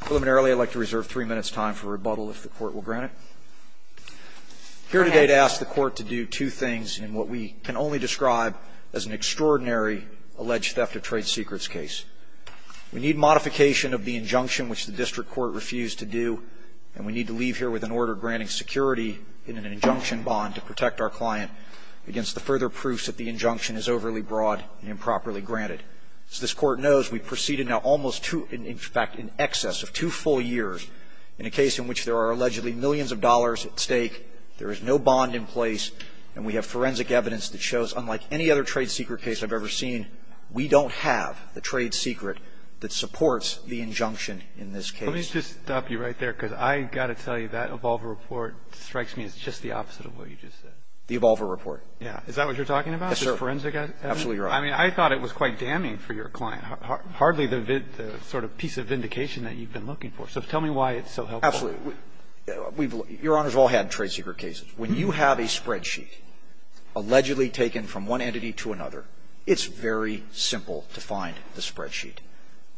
Preliminarily, I'd like to reserve three minutes' time for rebuttal if the Court will grant it. I'm here today to ask the Court to do two things in what we can only describe as an extraordinary alleged theft of trade secrets case. We need modification of the injunction, which the District Court refused to do, and we need to leave here with an order granting security in an injunction bond to protect our client against the further proofs that the injunction is overly broad and improperly granted. As this Court knows, we've proceeded now almost to, in fact, in excess of two full years in a case in which there are allegedly millions of dollars at stake, there is no bond in place, and we have forensic evidence that shows, unlike any other trade secret case I've ever seen, we don't have the trade secret that supports the injunction in this case. Let me just stop you right there, because I've got to tell you, that Evolver report strikes me as just the opposite of what you just said. The Evolver report. Yeah. Is that what you're talking about? Yes, sir. This forensic evidence? Absolutely, Your Honor. I mean, I thought it was quite damning for your client. Hardly the sort of piece of vindication that you've been looking for. So tell me why it's so helpful. Absolutely. Your Honors, we've all had trade secret cases. When you have a spreadsheet allegedly taken from one entity to another, it's very simple to find the spreadsheet.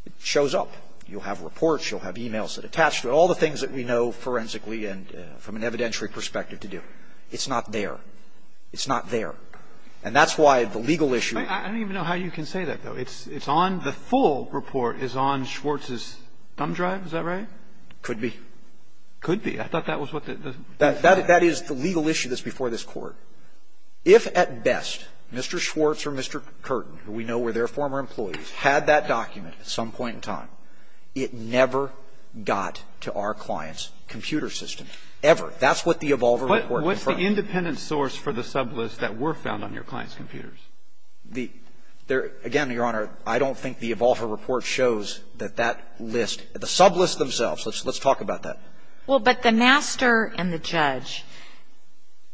It shows up. You'll have reports. You'll have e-mails attached to it, all the things that we know forensically and from an evidentiary perspective to do. It's not there. It's not there. And that's why the legal issue I don't even know how you can say that, though. It's on the full report is on Schwartz's thumb drive. Is that right? Could be. Could be. I thought that was what the That is the legal issue that's before this Court. If at best, Mr. Schwartz or Mr. Curtin, who we know were their former employees, had that document at some point in time, it never got to our client's computer system, ever. That's what the Evolver report confirmed. Is there an independent source for the sublist that were found on your client's computers? Again, Your Honor, I don't think the Evolver report shows that that list, the sublist themselves, let's talk about that. Well, but the master and the judge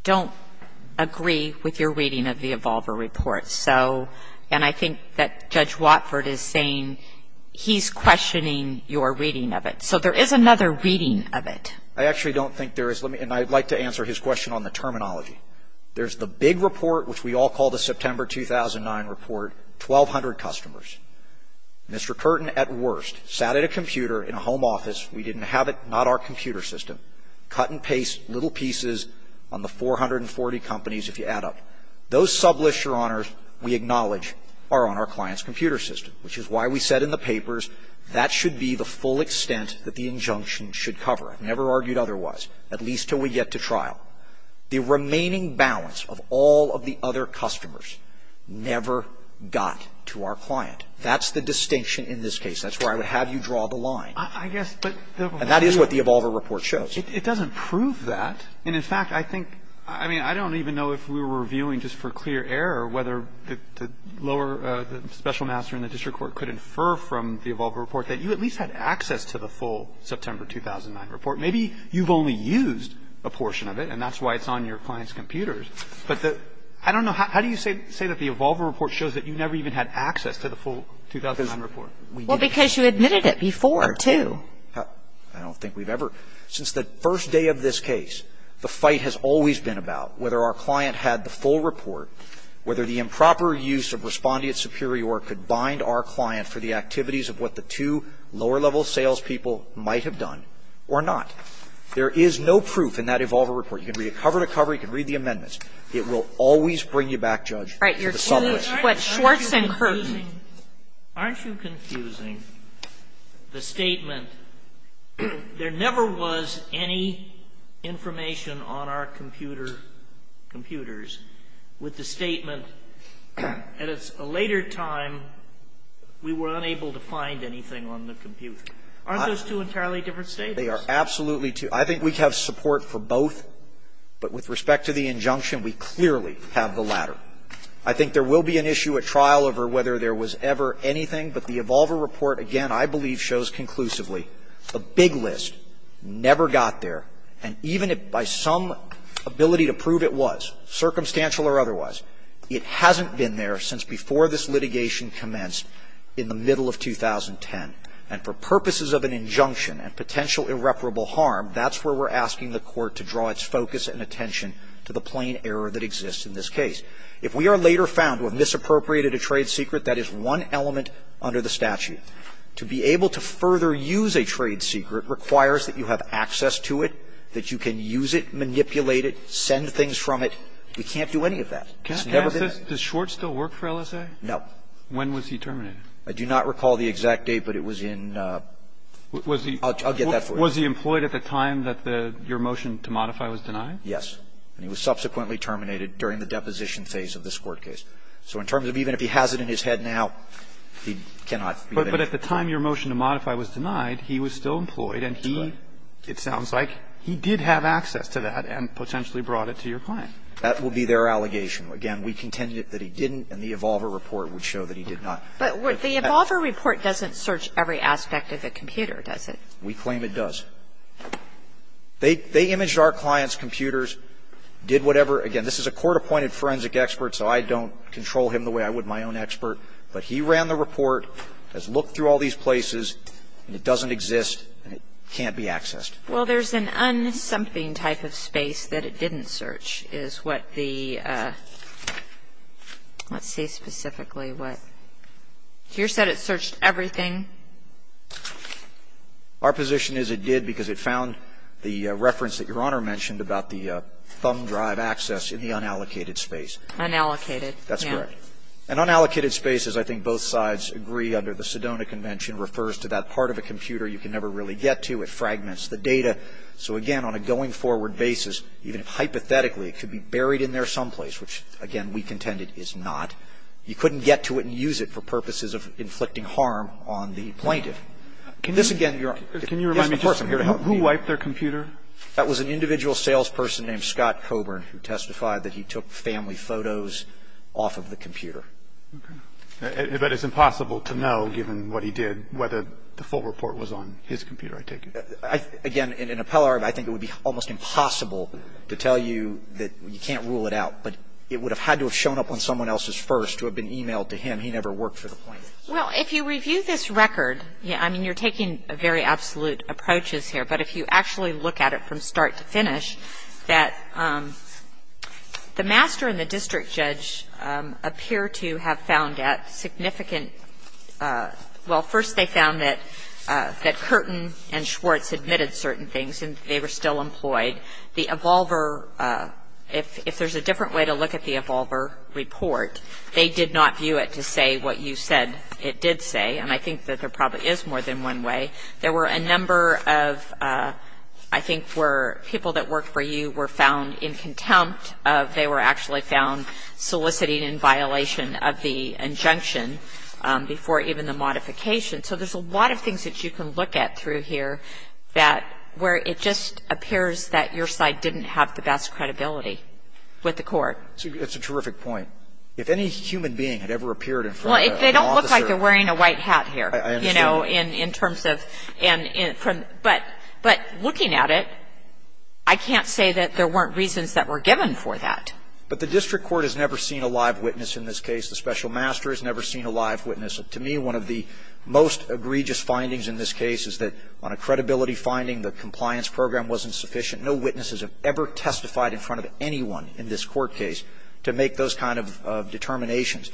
don't agree with your reading of the Evolver report. So, and I think that Judge Watford is saying he's questioning your reading of it. So there is another reading of it. I actually don't think there is. And I'd like to answer his question on the terminology. There's the big report, which we all call the September 2009 report, 1,200 customers. Mr. Curtin, at worst, sat at a computer in a home office. We didn't have it. Not our computer system. Cut and paste little pieces on the 440 companies, if you add up. Those sublists, Your Honor, we acknowledge are on our client's computer system, never argued otherwise, at least until we get to trial. The remaining balance of all of the other customers never got to our client. That's the distinction in this case. That's where I would have you draw the line. And that is what the Evolver report shows. It doesn't prove that. And, in fact, I think, I mean, I don't even know if we were reviewing just for clear error whether the lower, the special master in the district court could infer from the Evolver report that you at least had access to the full September 2009 report. Maybe you've only used a portion of it, and that's why it's on your client's computers. But I don't know. How do you say that the Evolver report shows that you never even had access to the full 2009 report? Well, because you admitted it before, too. I don't think we've ever. Since the first day of this case, the fight has always been about whether our client had the full report, whether the improper use of respondeat superior could bind our client for the activities of what the two lower-level salespeople might have done or not. There is no proof in that Evolver report. You can read it cover to cover. You can read the amendments. It will always bring you back, Judge, to the summary. Kagan. Aren't you confusing the statement, there never was any information on our computer computers, with the statement, at a later time, we were unable to find anything on the computer? Aren't those two entirely different statements? They are absolutely two. I think we have support for both, but with respect to the injunction, we clearly have the latter. I think there will be an issue at trial over whether there was ever anything, but the Evolver report, again, I believe shows conclusively a big list, never got there, and even if by some ability to prove it was, circumstantial or otherwise, it hasn't been there since before this litigation commenced in the middle of 2010, and for purposes of an injunction and potential irreparable harm, that's where we're asking the court to draw its focus and attention to the plain error that exists in this case. If we are later found to have misappropriated a trade secret, that is one element under the statute. If we are later found to have misappropriated a trade secret, that is one element under the statute. To be able to further use a trade secret requires that you have access to it, that you can use it, manipulate it, send things from it. We can't do any of that. It's never been done. Can I ask this? Does Schwartz still work for LSA? No. When was he terminated? I do not recall the exact date, but it was in the ---- I'll get that for you. Was he employed at the time that your motion to modify was denied? Yes. He was. And he was subsequently terminated during the deposition phase of this court case. So in terms of even if he has it in his head now, he cannot be there. But at the time your motion to modify was denied, he was still employed and he, it sounds like, he did have access to that and potentially brought it to your client. That would be their allegation. Again, we contend that he didn't and the Evolver report would show that he did not. But the Evolver report doesn't search every aspect of the computer, does it? We claim it does. They imaged our clients' computers, did whatever. Again, this is a court-appointed forensic expert, so I don't control him the way I would my own expert. But he ran the report, has looked through all these places, and it doesn't exist and it can't be accessed. Well, there's an unsomething type of space that it didn't search is what the ---- let's see specifically what. You said it searched everything. Our position is it did because it found the reference that Your Honor mentioned about the thumb drive access in the unallocated space. Unallocated. That's correct. An unallocated space, as I think both sides agree under the Sedona Convention, refers to that part of a computer you can never really get to. It fragments the data. So, again, on a going forward basis, even hypothetically, it could be buried in there someplace, which, again, we contend it is not. You couldn't get to it and use it for purposes of inflicting harm on the plaintiff. This, again, Your Honor, is the person here to help me. Can you remind me just who wiped their computer? That was an individual salesperson named Scott Coburn who testified that he took family photos off of the computer. Okay. But it's impossible to know, given what he did, whether the full report was on his computer, I take it. Again, in an appellate argument, I think it would be almost impossible to tell you that you can't rule it out. But it would have had to have shown up on someone else's first to have been emailed to him. He never worked for the plaintiff. Well, if you review this record, I mean, you're taking very absolute approaches here. But if you actually look at it from start to finish, that the master and the district judge appear to have found that significant – well, first they found that Curtin and Schwartz admitted certain things and they were still employed. The Evolver – if there's a different way to look at the Evolver report, they did not view it to say what you said it did say. And I think that there probably is more than one way. There were a number of, I think, where people that worked for you were found in contempt of – they were actually found soliciting in violation of the injunction before even the modification. So there's a lot of things that you can look at through here that – where it just appears that your side didn't have the best credibility with the court. It's a terrific point. If any human being had ever appeared in front of an officer – Well, they don't look like they're wearing a white hat here. I understand. You know, in terms of – but looking at it, I can't say that there weren't reasons that were given for that. But the district court has never seen a live witness in this case. The special master has never seen a live witness. To me, one of the most egregious findings in this case is that on a credibility finding, the compliance program wasn't sufficient. No witnesses have ever testified in front of anyone in this court case to make those kind of determinations.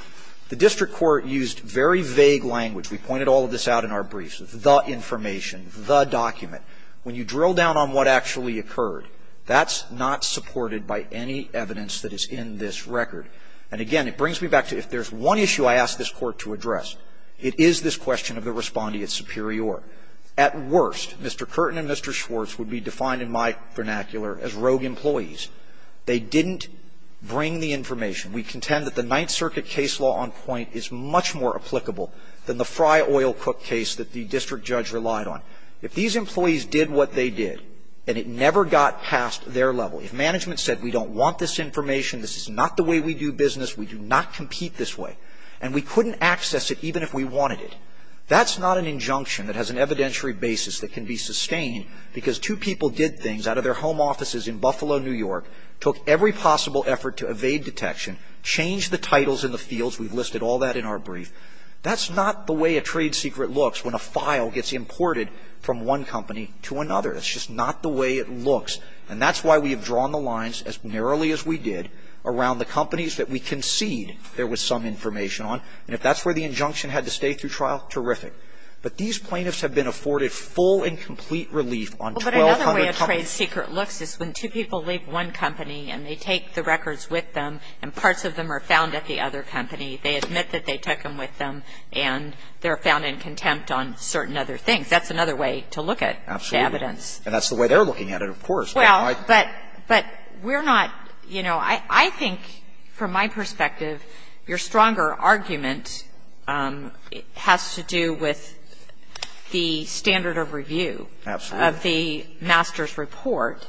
The district court used very vague language. We pointed all of this out in our briefs. The information. The document. When you drill down on what actually occurred, that's not supported by any evidence that is in this record. And again, it brings me back to if there's one issue I ask this Court to address, it is this question of the respondeat superior. At worst, Mr. Curtin and Mr. Schwartz would be defined in my vernacular as rogue employees. They didn't bring the information. We contend that the Ninth Circuit case law on point is much more applicable than the Fry Oil Cook case that the district judge relied on. If these employees did what they did and it never got past their level, if management said we don't want this information, this is not the way we do business, we do not compete this way, and we couldn't access it even if we wanted it, that's not an injunction that has an evidentiary basis that can be sustained because two people did things out of their home offices in Buffalo, New York, took every possible effort to evade detection, changed the titles in the fields. We've listed all that in our brief. That's not the way a trade secret looks when a file gets imported from one company to another. That's just not the way it looks. And that's why we have drawn the lines as narrowly as we did around the companies that we concede there was some information on. And if that's where the injunction had to stay through trial, terrific. But these plaintiffs have been afforded full and complete relief on 1,200 companies. But another way a trade secret looks is when two people leave one company and they take the records with them and parts of them are found at the other company, they admit that they took them with them, and they're found in contempt on certain other things. That's another way to look at the evidence. Absolutely. And that's the way they're looking at it, of course. Well, but we're not, you know, I think from my perspective your stronger argument has to do with the standard of review. Absolutely. Of the master's report.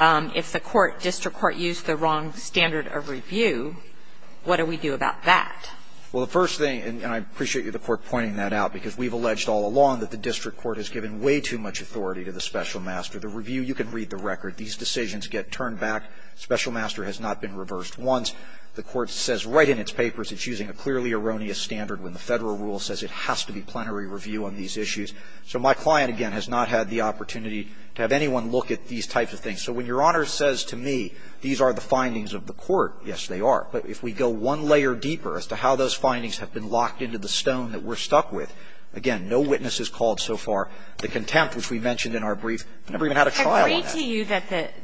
If the court, district court, used the wrong standard of review, what do we do about that? Well, the first thing, and I appreciate you, the Court, pointing that out, because we've alleged all along that the district court has given way too much authority to the special master. The review, you can read the record. These decisions get turned back. Special master has not been reversed once. The Court says right in its papers it's using a clearly erroneous standard when the Federal rule says it has to be plenary review on these issues. So my client, again, has not had the opportunity to have anyone look at these types of things. So when Your Honor says to me these are the findings of the court, yes, they are. But if we go one layer deeper as to how those findings have been locked into the stone that we're stuck with, again, no witnesses called so far. The contempt, which we mentioned in our brief, never even had a trial on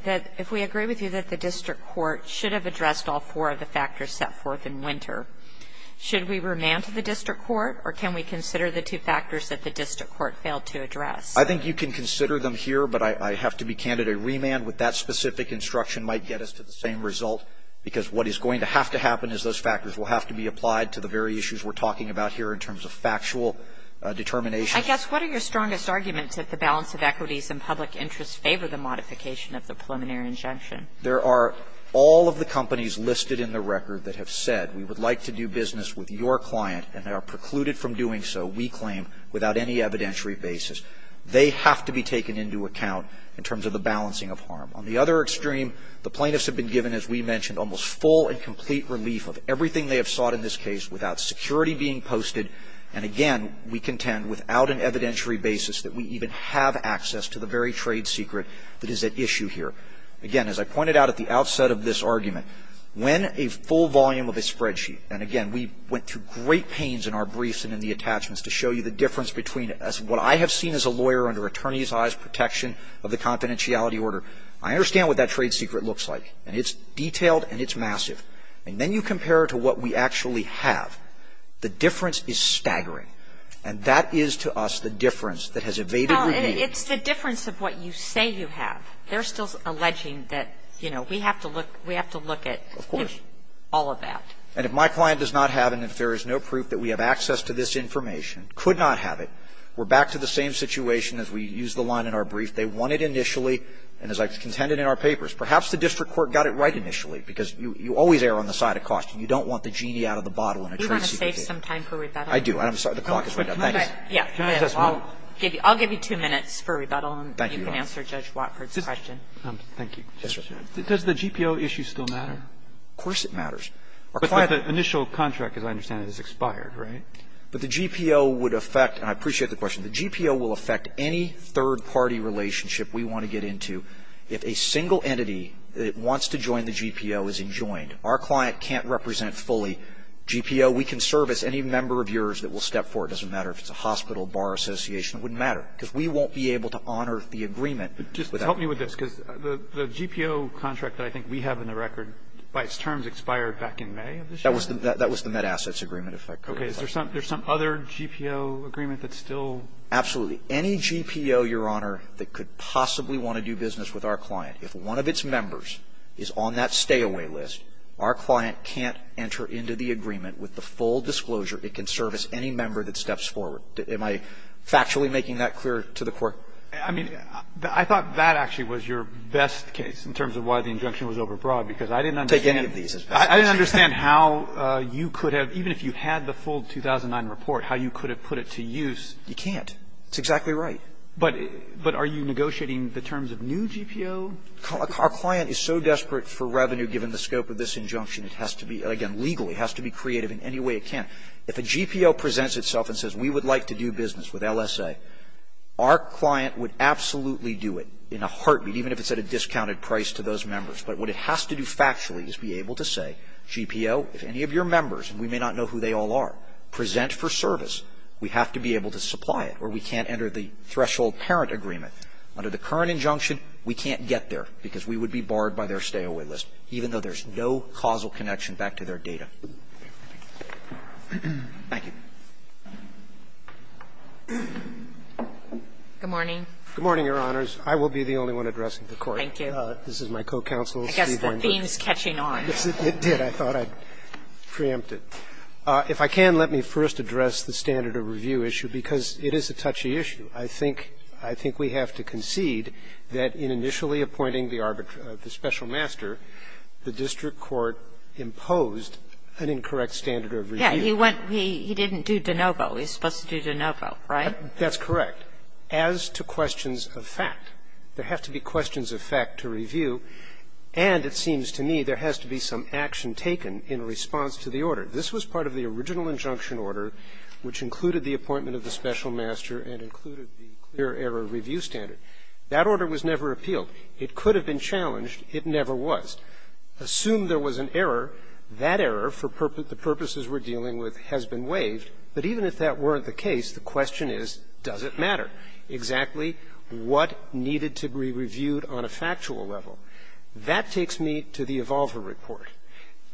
that. If we agree with you that the district court should have addressed all four of the factors set forth in Winter, should we remand to the district court, or can we consider the two factors that the district court failed to address? I think you can consider them here, but I have to be candid. A remand with that specific instruction might get us to the same result, because what is going to have to happen is those factors will have to be applied to the very issues we're talking about here in terms of factual determination. I guess what are your strongest arguments that the balance of equities and public interest favor the modification of the preliminary injunction? There are all of the companies listed in the record that have said we would like to do business with your client, and they are precluded from doing so, we claim, without any evidentiary basis. They have to be taken into account in terms of the balancing of harm. On the other extreme, the plaintiffs have been given, as we mentioned, almost full and complete relief of everything they have sought in this case without security being posted, and again, we contend without an evidentiary basis that we even have access to the very trade secret that is at issue here. Again, as I pointed out at the outset of this argument, when a full volume of a spreadsheet, and again, we went through great pains in our briefs and in the attachments to show you the difference between what I have seen as a lawyer under attorney's eyes protection of the confidentiality order, I understand what that trade secret looks like, and it's detailed and it's massive. And then you compare it to what we actually have. The difference is staggering. And that is to us the difference that has evaded review. It's the difference of what you say you have. They're still alleging that, you know, we have to look at all of that. Of course. And if my client does not have and if there is no proof that we have access to this information, could not have it, we're back to the same situation as we used the line in our brief. They want it initially, and as I contended in our papers, perhaps the district court got it right initially, because you always err on the side of cost, and you don't want the genie out of the bottle in a trade secret case. Do you want to save some time for rebuttal? And I'm sorry, the clock is right now. Thanks. I'll give you two minutes for rebuttal, and you can answer Judge Watford's question. Thank you. Does the GPO issue still matter? Of course it matters. But the initial contract, as I understand it, has expired, right? But the GPO would affect, and I appreciate the question, the GPO will affect any third-party relationship we want to get into if a single entity that wants to join the GPO is enjoined. Our client can't represent fully GPO. We can service any member of yours that will step forward. It doesn't matter if it's a hospital, bar association. It wouldn't matter, because we won't be able to honor the agreement. Just help me with this, because the GPO contract that I think we have in the record, by its terms, expired back in May of this year? That was the Met Assets Agreement, if I could. Okay. Is there some other GPO agreement that's still? Absolutely. Any GPO, Your Honor, that could possibly want to do business with our client, if one with the full disclosure, it can service any member that steps forward. Am I factually making that clear to the Court? I mean, I thought that actually was your best case in terms of why the injunction was overbroad, because I didn't understand. Take any of these. I didn't understand how you could have, even if you had the full 2009 report, how you could have put it to use. You can't. It's exactly right. But are you negotiating the terms of new GPO? Our client is so desperate for revenue, given the scope of this injunction, it has to be, again, legally, has to be creative in any way it can. If a GPO presents itself and says we would like to do business with LSA, our client would absolutely do it in a heartbeat, even if it's at a discounted price to those members. But what it has to do factually is be able to say, GPO, if any of your members, and we may not know who they all are, present for service, we have to be able to supply it, or we can't enter the threshold parent agreement. Under the current injunction, we can't get there, because we would be barred by their stay-away list, even though there's no causal connection back to their data. Thank you. Good morning. Good morning, Your Honors. I will be the only one addressing the Court. Thank you. This is my co-counsel, Steve Weinberg. I guess the theme is catching on. Yes, it did. I thought I'd preempt it. If I can, let me first address the standard of review issue, because it is a touchy I think we have to concede that in initially appointing the arbitrator, the special master, the district court imposed an incorrect standard of review. He didn't do de novo. He was supposed to do de novo, right? That's correct. As to questions of fact, there have to be questions of fact to review, and it seems to me there has to be some action taken in response to the order. This was part of the original injunction order, which included the appointment of the special master and included the clear error review standard. That order was never appealed. It could have been challenged. It never was. Assume there was an error. That error, for the purposes we're dealing with, has been waived. But even if that weren't the case, the question is, does it matter exactly what needed to be reviewed on a factual level? That takes me to the Evolver Report.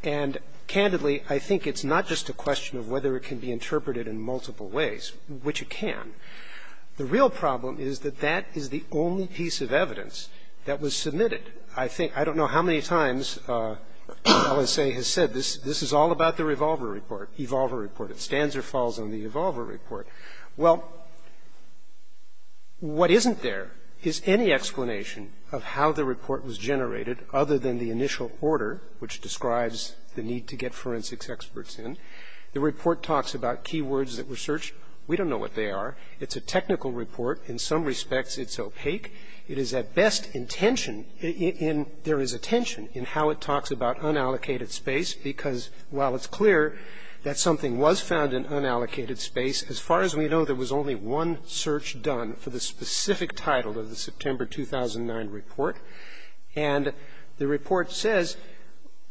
And candidly, I think it's not just a question of whether it can be interpreted in multiple ways, which it can. The real problem is that that is the only piece of evidence that was submitted. I think – I don't know how many times the LSA has said this is all about the Revolver Report, Evolver Report. It stands or falls on the Evolver Report. Well, what isn't there is any explanation of how the report was generated other than the initial order, which describes the need to get forensics experts in. The report talks about key words that were searched. We don't know what they are. It's a technical report. In some respects, it's opaque. It is at best intentioned in – there is a tension in how it talks about unallocated space, because while it's clear that something was found in unallocated space, as far as we know, there was only one search done for the specific title of the September 2009 report. And the report says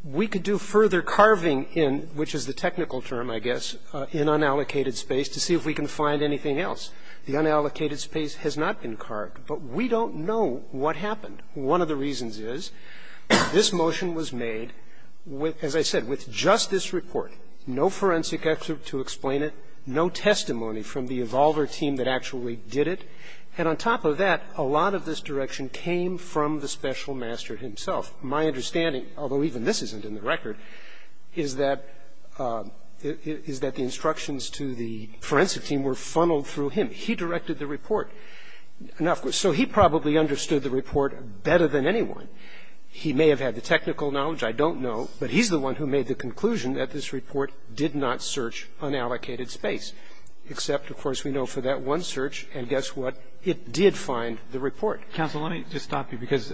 we could do further carving in, which is the technical term, I guess, in unallocated space to see if we can find anything else. The unallocated space has not been carved. But we don't know what happened. One of the reasons is this motion was made, as I said, with just this report. No forensic expert to explain it. No testimony from the Evolver team that actually did it. And on top of that, a lot of this direction came from the special master himself. My understanding, although even this isn't in the record, is that the instructions to the forensic team were funneled through him. He directed the report. So he probably understood the report better than anyone. He may have had the technical knowledge. I don't know. But he's the one who made the conclusion that this report did not search unallocated space, except, of course, we know for that one search. And guess what? It did find the report. Mr. Laird. Counsel, let me just stop you, because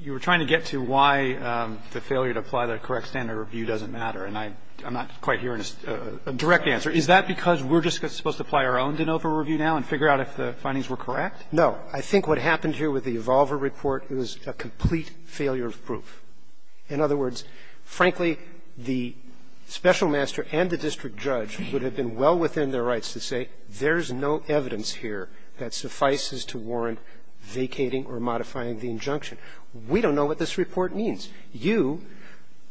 you were trying to get to why the failure to apply the correct standard of review doesn't matter. And I'm not quite hearing a direct answer. Is that because we're just supposed to apply our own de novo review now and figure out if the findings were correct? No. I think what happened here with the Evolver report was a complete failure of proof. In other words, frankly, the special master and the district judge would have been well within their rights to say there's no evidence here that suffices to warrant vacating or modifying the injunction. We don't know what this report means. You,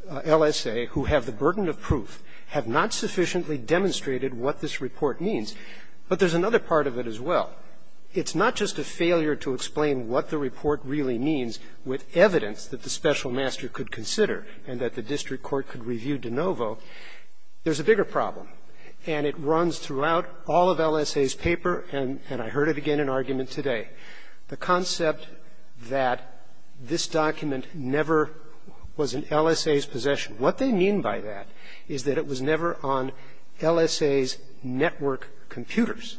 LSA, who have the burden of proof, have not sufficiently demonstrated what this report means. But there's another part of it as well. It's not just a failure to explain what the report really means with evidence that the special master could consider and that the district court could review de novo. There's a bigger problem, and it runs throughout all of LSA's paper, and I heard it again in argument today. The concept that this document never was in LSA's possession. What they mean by that is that it was never on LSA's network computers.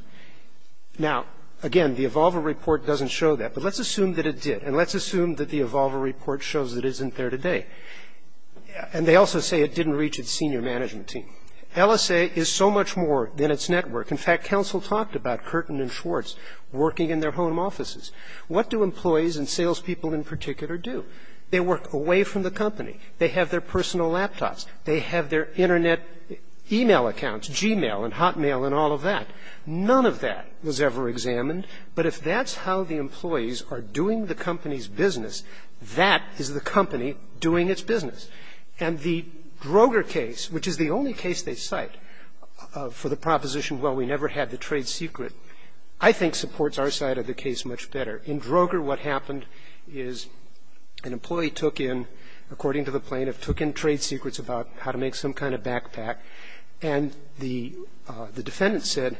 Now, again, the Evolver report doesn't show that, but let's assume that it did, and let's assume that the Evolver report shows it isn't there today. And they also say it didn't reach its senior management team. LSA is so much more than its network. In fact, counsel talked about Curtin and Schwartz working in their home offices. What do employees and salespeople in particular do? They work away from the company. They have their personal laptops. They have their Internet e-mail accounts, Gmail and Hotmail and all of that. None of that was ever examined. But if that's how the employees are doing the company's business, that is the company doing its business. And the Droger case, which is the only case they cite for the proposition, well, we never had the trade secret, I think supports our side of the case much better. In Droger, what happened is an employee took in, according to the plaintiff, took in trade secrets about how to make some kind of backpack, and the defendant said,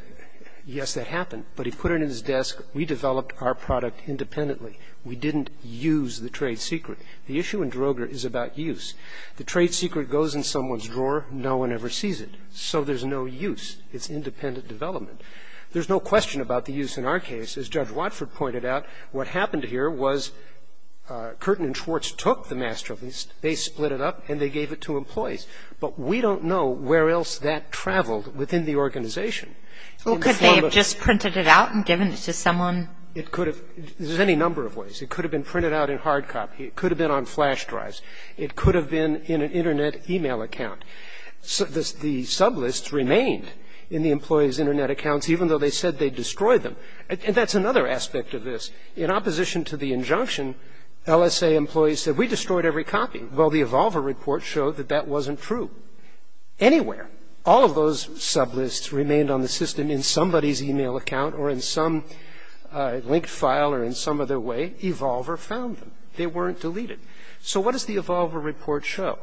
yes, that happened, but he put it in his desk, we developed our product independently. We didn't use the trade secret. The issue in Droger is about use. The trade secret goes in someone's drawer. No one ever sees it. So there's no use. It's independent development. There's no question about the use in our case. As Judge Watford pointed out, what happened here was Curtin and Schwartz took the masterpiece, they split it up, and they gave it to employees. But we don't know where else that traveled within the organization. Well, could they have just printed it out and given it to someone? It could have. There's any number of ways. It could have been printed out in hard copy. It could have been on flash drives. It could have been in an Internet email account. The sublists remained in the employees' Internet accounts, even though they said they destroyed them. And that's another aspect of this. In opposition to the injunction, LSA employees said, we destroyed every copy. Well, the Evolver report showed that that wasn't true. Anywhere, all of those sublists remained on the system in somebody's email account or in some linked file or in some other way. Evolver found them. They weren't deleted. So what does the Evolver report show?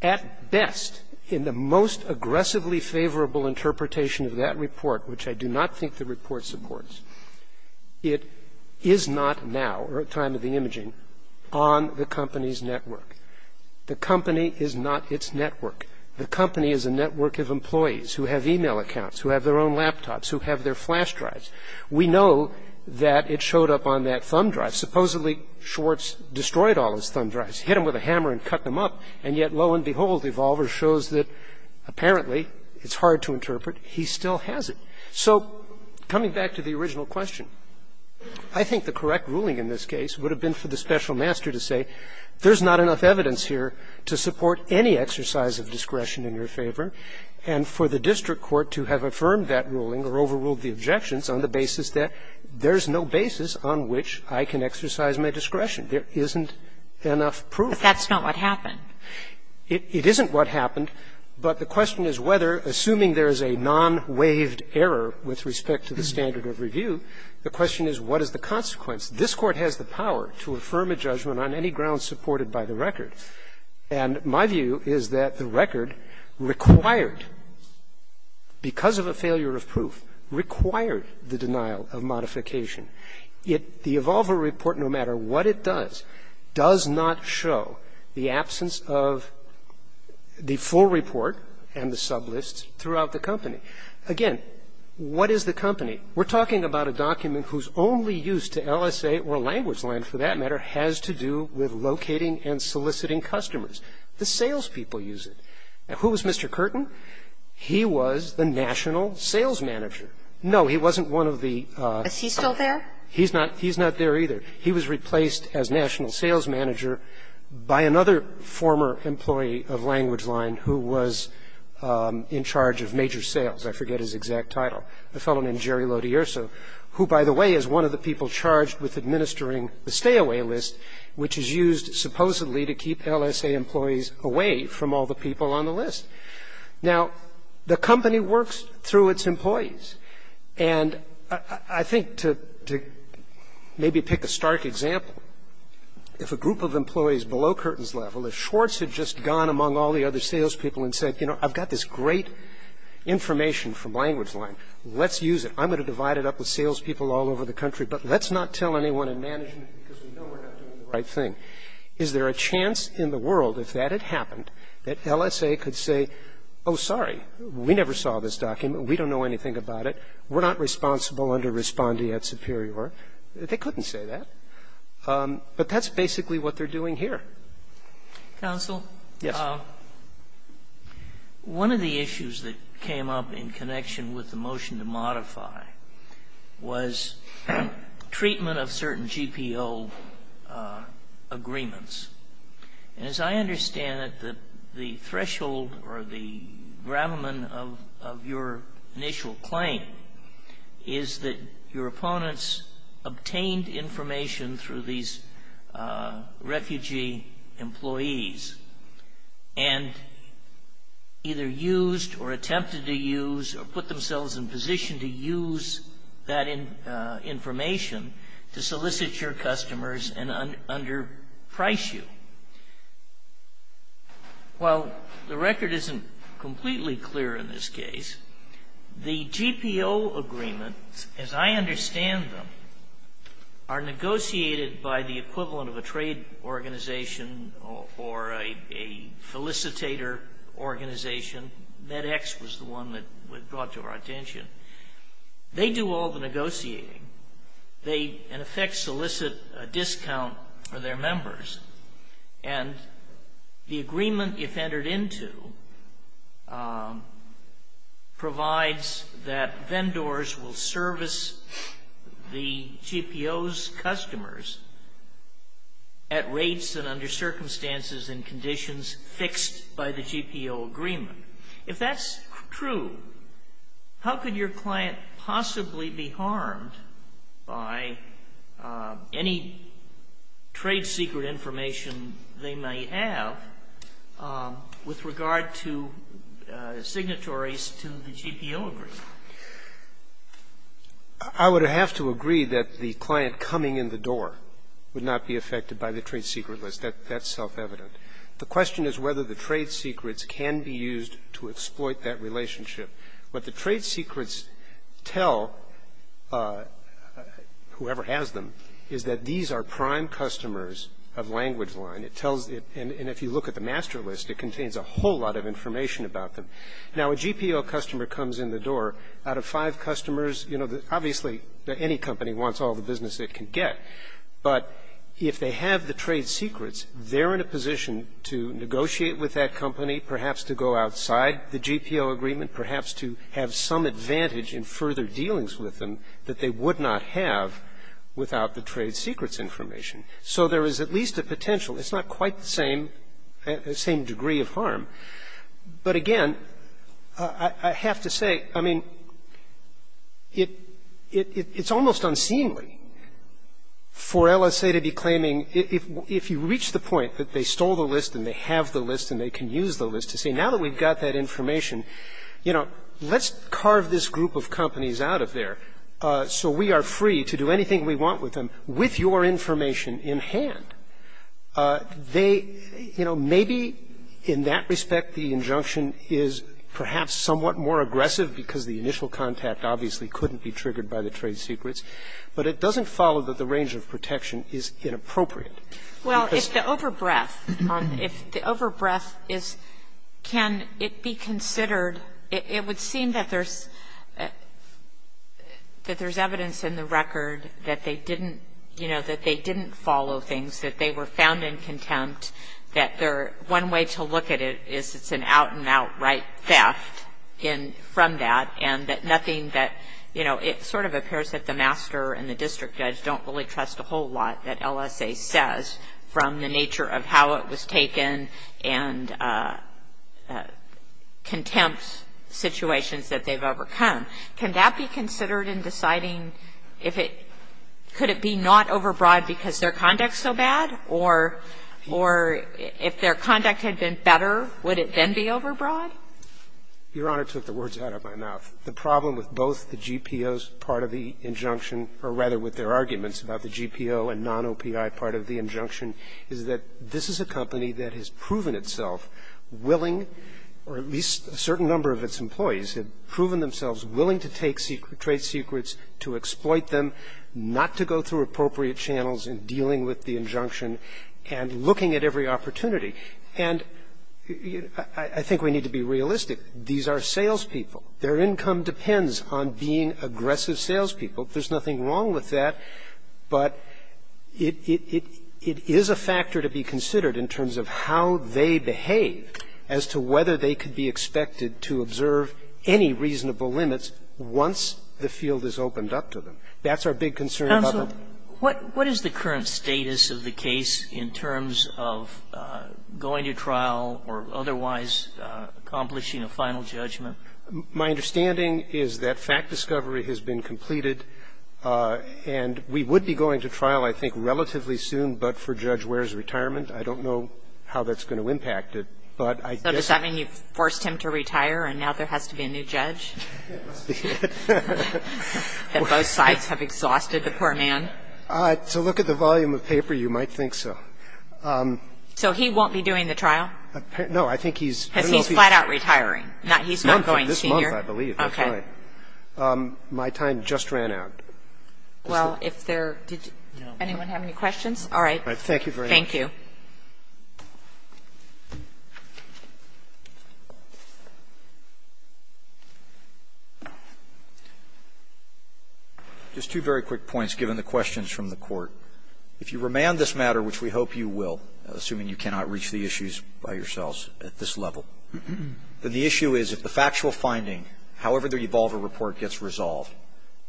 At best, in the most aggressively favorable interpretation of that report, which I do not think the report supports, it is not now, or at time of the imaging, on the company's network. The company is not its network. The company is a network of employees who have email accounts, who have their own laptops, who have their flash drives. We know that it showed up on that thumb drive. Supposedly, Schwartz destroyed all his thumb drives, hit them with a hammer and cut them up, and yet, lo and behold, Evolver shows that apparently it's hard to interpret. He still has it. So coming back to the original question, I think the correct ruling in this case would have been for the special master to say there's not enough evidence here to support any exercise of discretion in your favor, and for the district court to have affirmed that ruling or overruled the objections on the basis that there's no basis on which I can exercise my discretion. There isn't enough proof. Kagan. But that's not what happened. It isn't what happened, but the question is whether, assuming there is a non-waived error with respect to the standard of review, the question is what is the consequence. This Court has the power to affirm a judgment on any grounds supported by the record. And my view is that the record required, because of a failure of proof, required the denial of modification. Yet the Evolver report, no matter what it does, does not show the absence of the full report and the sublists throughout the company. Again, what is the company? We're talking about a document whose only use to LSA or language line, for that matter, has to do with locating and soliciting customers. The salespeople use it. Now, who was Mr. Curtin? He was the national sales manager. No, he wasn't one of the ---- Is he still there? He's not there either. He was replaced as national sales manager by another former employee of language line who was in charge of major sales. I forget his exact title. A fellow named Jerry Lodierso, who, by the way, is one of the people charged with administering the stay-away list, which is used supposedly to keep LSA employees away from all the people on the list. Now, the company works through its employees. And I think to maybe pick a stark example, if a group of employees below Curtin's level, if Schwartz had just gone among all the other salespeople and said, you know, I've got this great information from language line. Let's use it. I'm going to divide it up with salespeople all over the country, but let's not tell anyone in management because we know we're not doing the right thing. Is there a chance in the world, if that had happened, that LSA could say, oh, sorry, we never saw this document. We don't know anything about it. We're not responsible under respondeat superior. They couldn't say that. But that's basically what they're doing here. Sotomayor. Yes. One of the issues that came up in connection with the motion to modify was treatment of certain GPO agreements. And as I understand it, the threshold or the gravamen of your initial claim is that your opponents obtained information through these refugee employees and either used or attempted to use or put themselves in position to use that information to solicit your customers and underprice you. While the record isn't completely clear in this case, the GPO agreements, as I understand them, are negotiated by the equivalent of a trade organization or a felicitator organization. MedEx was the one that brought to our attention. They do all the negotiating. They, in effect, solicit a discount for their members. And the agreement, if entered into, provides that vendors will service the GPO's customers at rates and under circumstances and conditions fixed by the GPO agreement. If that's true, how could your client possibly be harmed by any trade secret information they might have with regard to signatories to the GPO agreement? I would have to agree that the client coming in the door would not be affected by the trade secret list. That's self-evident. The question is whether the trade secrets can be used to exploit that relationship. What the trade secrets tell, whoever has them, is that these are prime customers of Language Line. It tells them, and if you look at the master list, it contains a whole lot of information about them. Now, a GPO customer comes in the door. Out of five customers, you know, obviously any company wants all the business it can get. But if they have the trade secrets, they're in a position to negotiate with that company, perhaps to go outside the GPO agreement, perhaps to have some advantage in further dealings with them that they would not have without the trade secrets information. So there is at least a potential. It's not quite the same degree of harm. But again, I have to say, I mean, it's almost unseemly. For LSA to be claiming, if you reach the point that they stole the list and they have the list and they can use the list to say, now that we've got that information, you know, let's carve this group of companies out of there so we are free to do anything we want with them with your information in hand. They, you know, maybe in that respect the injunction is perhaps somewhat more aggressive because the initial contact obviously couldn't be triggered by the trade secrets. But it doesn't follow that the range of protection is inappropriate. Because the over-breath, if the over-breath is can it be considered, it would seem that there's evidence in the record that they didn't, you know, that they didn't follow things, that they were found in contempt, that their one way to look at it is it's an out-and-out right theft from that, and that nothing that, you know, it sort of appears that the master and the district judge don't really trust a whole lot that LSA says from the nature of how it was taken and contempt situations that they've overcome. Can that be considered in deciding if it could it be not over-breath because their conduct is so bad? Or if their conduct had been better, would it then be over-breath? Your Honor took the words out of my mouth. The problem with both the GPO's part of the injunction, or rather with their arguments about the GPO and non-OPI part of the injunction, is that this is a company that has proven itself willing, or at least a certain number of its employees have proven themselves willing to take trade secrets, to exploit them, not to go through appropriate channels in dealing with the injunction, and looking at every opportunity. And I think we need to be realistic. These are salespeople. Their income depends on being aggressive salespeople. There's nothing wrong with that. But it is a factor to be considered in terms of how they behave as to whether they could be expected to observe any reasonable limits once the field is opened up to them. That's our big concern about them. What is the current status of the case in terms of going to trial or otherwise accomplishing a final judgment? My understanding is that fact discovery has been completed, and we would be going to trial, I think, relatively soon, but for Judge Ware's retirement. I don't know how that's going to impact it. But I guess I mean you've forced him to retire, and now there has to be a new judge? That both sides have exhausted the poor man? To look at the volume of paper, you might think so. So he won't be doing the trial? No. I think he's going to be. Because he's flat out retiring. He's not going senior. This month, I believe. That's right. My time just ran out. Well, if there did anyone have any questions? All right. Thank you very much. Thank you. Just two very quick points, given the questions from the court. If you remand this matter, which we hope you will, assuming you cannot reach the issues by yourselves at this level, then the issue is if the factual finding, however the revolver report gets resolved,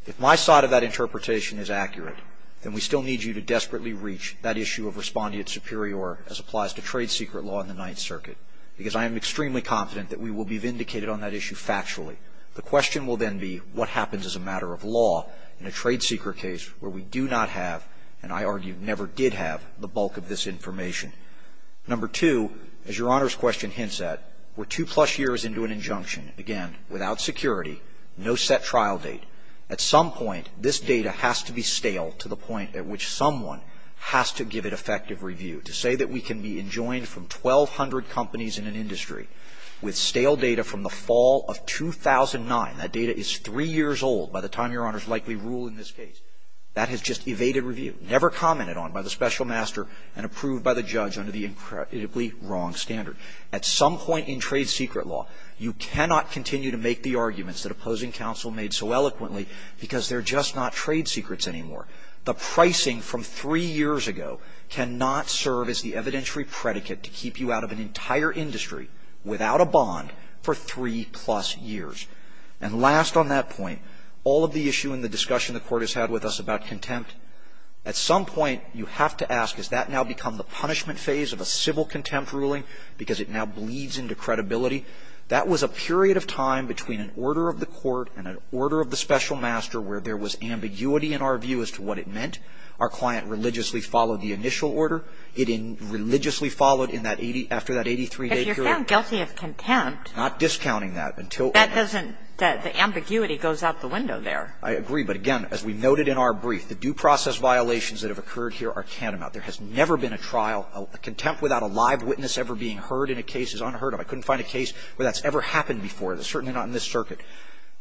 if my side of that interpretation is accurate, then we still need you to desperately reach that issue of responding to superior as applies to trade secret law in the Ninth Circuit. Because I am extremely confident that we will be vindicated on that issue factually. The question will then be what happens as a matter of law in a trade secret case where we do not have, and I argue never did have, the bulk of this information. Number two, as Your Honor's question hints at, we're two-plus years into an injunction, again, without security, no set trial date. At some point, this data has to be stale to the point at which someone has to give it effective review. To say that we can be enjoined from 1,200 companies in an industry with stale data from the fall of 2009, that data is three years old by the time Your Honor's likely ruling this case, that has just evaded review, never commented on by the special master and approved by the judge under the incredibly wrong standard. At some point in trade secret law, you cannot continue to make the arguments that opposing counsel made so eloquently because they're just not trade secrets anymore. The pricing from three years ago cannot serve as the evidentiary predicate to keep you out of an entire industry without a bond for three-plus years. And last on that point, all of the issue and the discussion the court has had with us about contempt, at some point you have to ask, has that now become the punishment phase of a civil contempt ruling because it now bleeds into credibility? That was a period of time between an order of the court and an order of the special master where there was ambiguity in our view as to what it meant. Our client religiously followed the initial order. It religiously followed after that 83-day period. If you're found guilty of contempt. Not discounting that. That doesn't, the ambiguity goes out the window there. I agree. But again, as we noted in our brief, the due process violations that have occurred here are tantamount. There has never been a trial, a contempt without a live witness ever being heard in a case is unheard of. I couldn't find a case where that's ever happened before. It's certainly not in this circuit.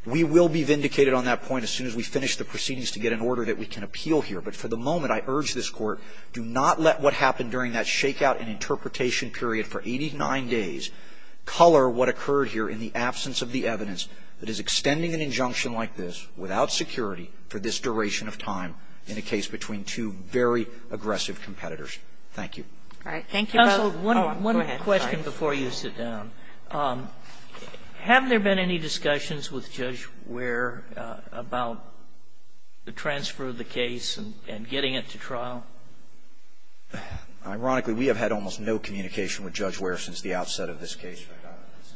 We will be vindicated on that point as soon as we finish the proceedings to get an order that we can appeal here. But for the moment, I urge this Court, do not let what happened during that shake-out and interpretation period for 89 days color what occurred here in the absence of the evidence that is extending an injunction like this without security for this duration of time in a case between two very aggressive competitors. Thank you. All right. Thank you both. Counsel, one question before you sit down. Have there been any discussions with Judge Ware about the transfer of the case and getting it to trial? Ironically, we have had almost no communication with Judge Ware since the outset of this case.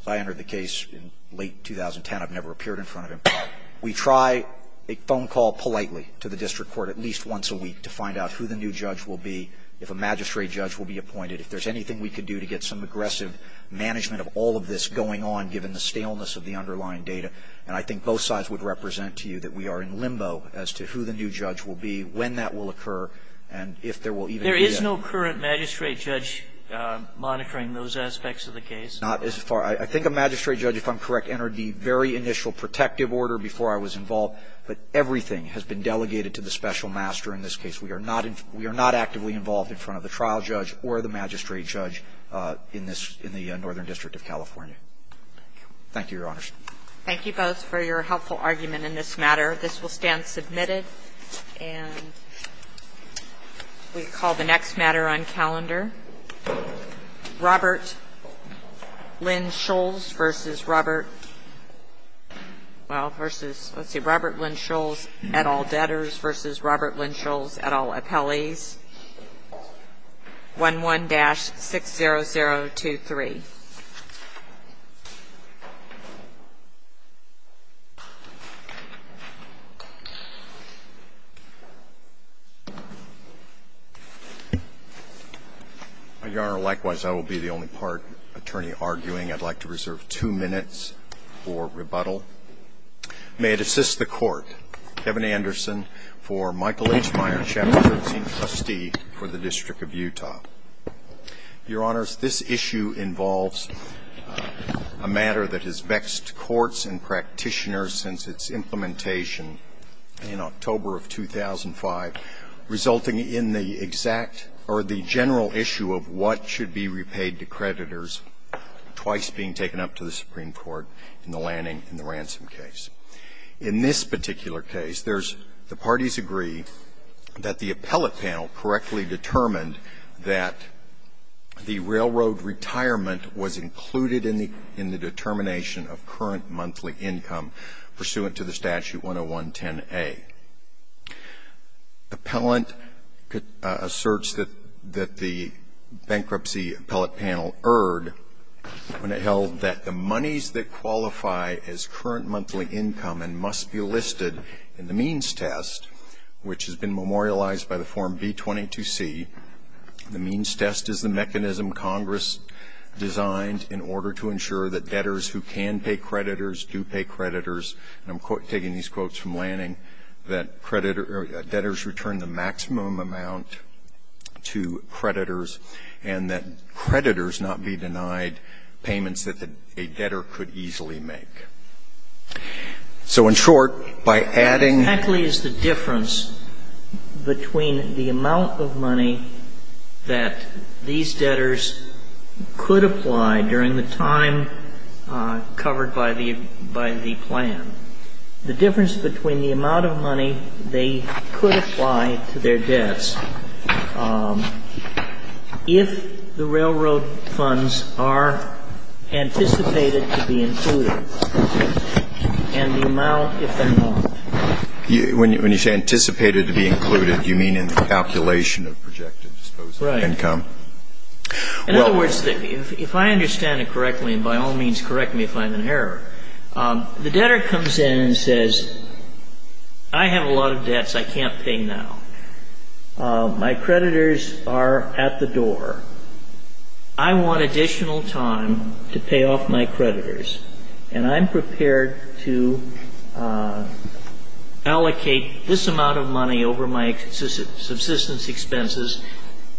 I entered the case in late 2010. I've never appeared in front of him. We try a phone call politely to the district court at least once a week to find out who the new judge will be, if a magistrate judge will be appointed, if there's anything we can do to get some aggressive management of all of this going on, given the staleness of the underlying data. And I think both sides would represent to you that we are in limbo as to who the new judge will be, when that will occur, and if there will even be a new judge. There is no current magistrate judge monitoring those aspects of the case? Not as far. I think a magistrate judge, if I'm correct, entered the very initial protective order before I was involved. But everything has been delegated to the special master in this case. We are not actively involved in front of the trial judge or the magistrate judge in this ñ in the Northern District of California. Thank you, Your Honors. Thank you both for your helpful argument in this matter. This will stand submitted. And we call the next matter on calendar. Robert Lynn Scholes v. Robert ñ well, versus ñ let's see. Robert Lynn Scholes v. Robert Lynn Scholes at all debtors v. Robert Lynn Scholes at all appellees, 11-60023. Your Honor, likewise, I will be the only part attorney arguing. I'd like to reserve two minutes for rebuttal. May it assist the Court, Kevin Anderson for Michael H. Myers, Chapter 13, Trustee for the District of Utah. Your Honors, this issue involves a matter that has vexed courts and practitioners since its implementation in October of 2005, resulting in the exact ñ or the general issue of what should be repaid to creditors twice being taken up to the Supreme Court in the Lanning and the Ransom case. In this particular case, there's ñ the parties agree that the appellate panel correctly determined that the railroad retirement was included in the determination of current monthly income pursuant to the statute 10110A. Appellant asserts that the bankruptcy appellate panel erred when it held that the monies that qualify as current monthly income must be listed in the means test, which has been memorialized by the Form B-22C. The means test is the mechanism Congress designed in order to ensure that debtors who can pay creditors do pay creditors. And I'm taking these quotes from Lanning, that debtors return the maximum amount to creditors, and that creditors not be denied payments that a debtor could easily make. So in short, by adding ñ Exactly is the difference between the amount of money that these debtors could apply during the time covered by the ñ by the plan, the difference between the amount of money they could apply to their debts if the railroad funds are anticipated to be included, and the amount if they're not. When you say anticipated to be included, you mean in the calculation of projected disposable income. Right. In other words, if I understand it correctly, and by all means correct me if I'm in I have a lot of debts I can't pay now. My creditors are at the door. I want additional time to pay off my creditors. And I'm prepared to allocate this amount of money over my subsistence expenses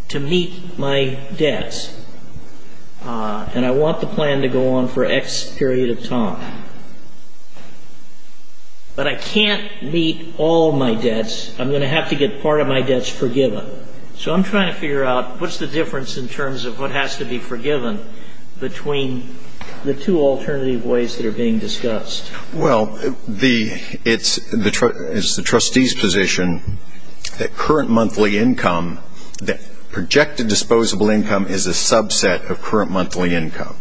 to meet my debts. And I want the plan to go on for X period of time. But I can't meet all my debts. I'm going to have to get part of my debts forgiven. So I'm trying to figure out what's the difference in terms of what has to be forgiven between the two alternative ways that are being discussed. Well, the ñ it's the ñ it's the trustee's position that current monthly income, that projected disposable income is a subset of current monthly income,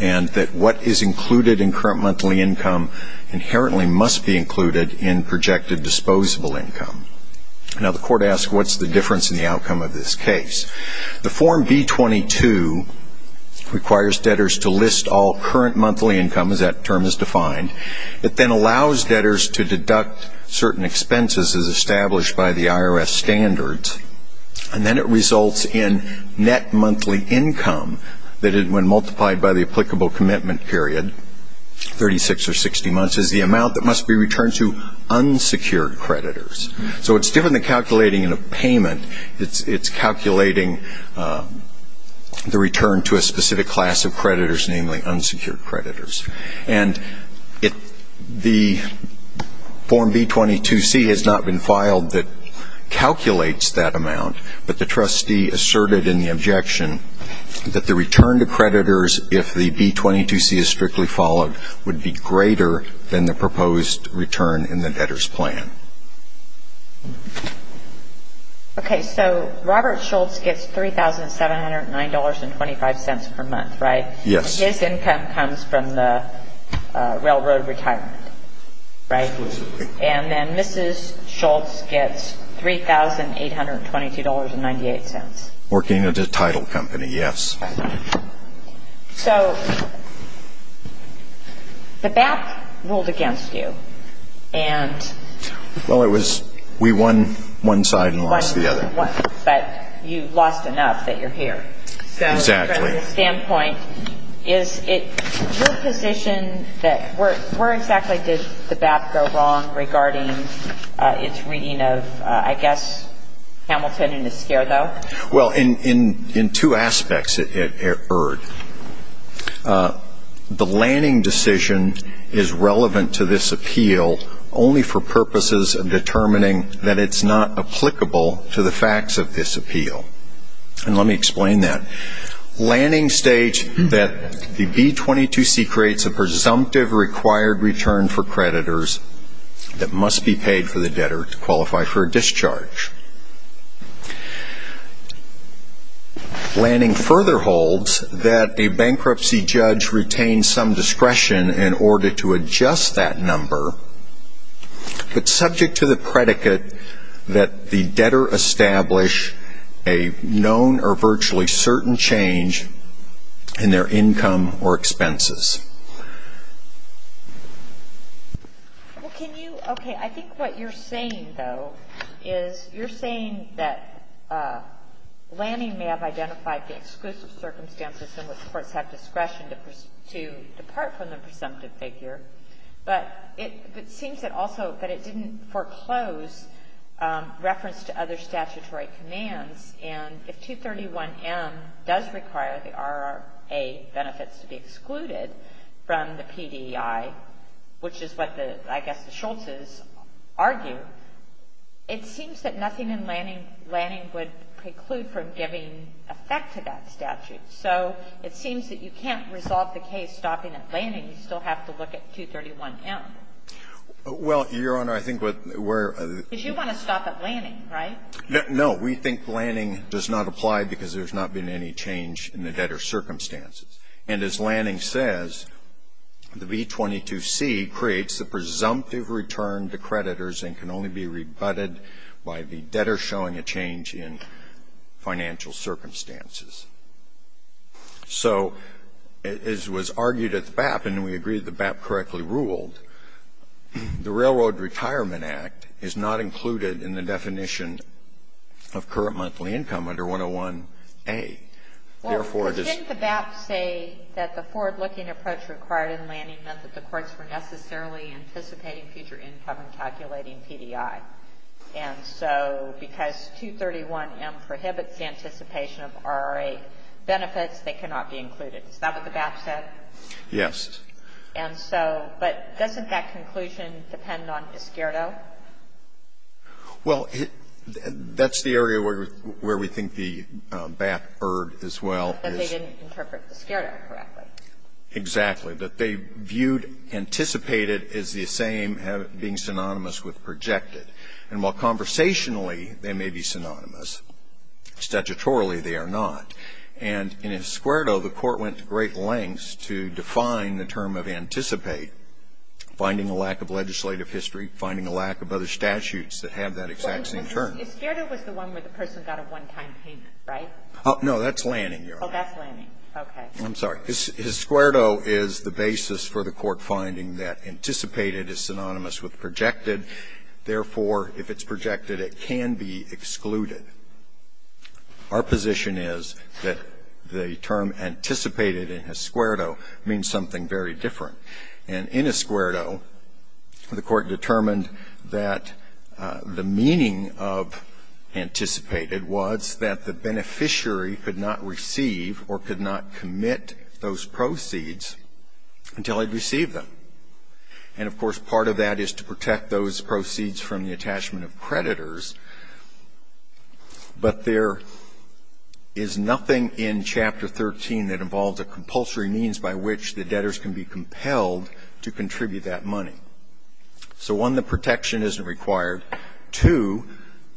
and that what is included in current monthly income inherently must be included in projected disposable income. Now, the court asks what's the difference in the outcome of this case. The Form B-22 requires debtors to list all current monthly income, as that term is defined. It then allows debtors to deduct certain expenses as established by the IRS And then it results in net monthly income that, when multiplied by the applicable commitment period, 36 or 60 months, is the amount that must be returned to unsecured creditors. So it's different than calculating in a payment. It's calculating the return to a specific class of creditors, namely unsecured creditors. And the Form B-22C has not been filed that calculates that amount, but the trustee asserted in the objection that the return to creditors, if the B-22C is strictly followed, would be greater than the proposed return in the debtor's plan. Okay. So Robert Schultz gets $3,709.25 per month, right? Yes. And his income comes from the railroad retirement, right? Exclusively. And then Mrs. Schultz gets $3,822.98. Working at a title company, yes. So the BAP ruled against you, and... Well, it was we won one side and lost the other. But you lost enough that you're here. Exactly. From the standpoint, is it your position that where exactly did the BAP go wrong regarding its reading of, I guess, Hamilton and Esquerdo? Well, in two aspects it erred. The Lanning decision is relevant to this appeal only for purposes of determining that it's not applicable to the facts of this appeal. And let me explain that. Lanning states that the B-22C creates a presumptive required return for creditors that must be paid for the debtor to qualify for a discharge. Lanning further holds that a bankruptcy judge retains some discretion in order to adjust that number, but subject to the predicate that the debtor establish a known or virtually certain change in their income or expenses. Well, can you – okay, I think what you're saying, though, is you're saying that Lanning may have identified the exclusive circumstances in which courts have discretion to depart from the presumptive figure, but it seems that also that it didn't foreclose reference to other statutory commands. And if 231M does require the RRA benefits to be excluded from the PDI, which is what I guess the Schultz's argue, it seems that nothing in Lanning would preclude from giving effect to that statute. So it seems that you can't resolve the case stopping at Lanning. You still have to look at 231M. Well, Your Honor, I think what we're – Because you want to stop at Lanning, right? No. We think Lanning does not apply because there's not been any change in the debtor's circumstances. And as Lanning says, the B-22C creates a presumptive return to creditors and can only be rebutted by the debtor showing a change in financial circumstances. So as was argued at the BAP, and we agree the BAP correctly ruled, the Railroad Retirement Act is not included in the definition of current monthly income under 101A. Therefore, it is – Well, didn't the BAP say that the forward-looking approach required in Lanning meant that the courts were necessarily anticipating future income and calculating And so because 231M prohibits the anticipation of RRA benefits, they cannot be included. Is that what the BAP said? Yes. And so – but doesn't that conclusion depend on Iscardo? Well, that's the area where we think the BAP erred as well. That they didn't interpret Iscardo correctly. Exactly. That they viewed anticipated as the same as being synonymous with projected. And while conversationally they may be synonymous, statutorily they are not. And in Iscardo, the court went to great lengths to define the term of anticipate, finding a lack of legislative history, finding a lack of other statutes that have that exact same term. Iscardo was the one where the person got a one-time payment, right? No, that's Lanning, Your Honor. Oh, that's Lanning. Okay. I'm sorry. Iscardo is the basis for the court finding that anticipated is synonymous with projected. Therefore, if it's projected, it can be excluded. Our position is that the term anticipated in Iscardo means something very different. And in Iscardo, the court determined that the meaning of anticipated was that the debtor would not get those proceeds until he received them. And, of course, part of that is to protect those proceeds from the attachment of creditors. But there is nothing in Chapter 13 that involves a compulsory means by which the debtors can be compelled to contribute that money. So, one, the protection isn't required. Two,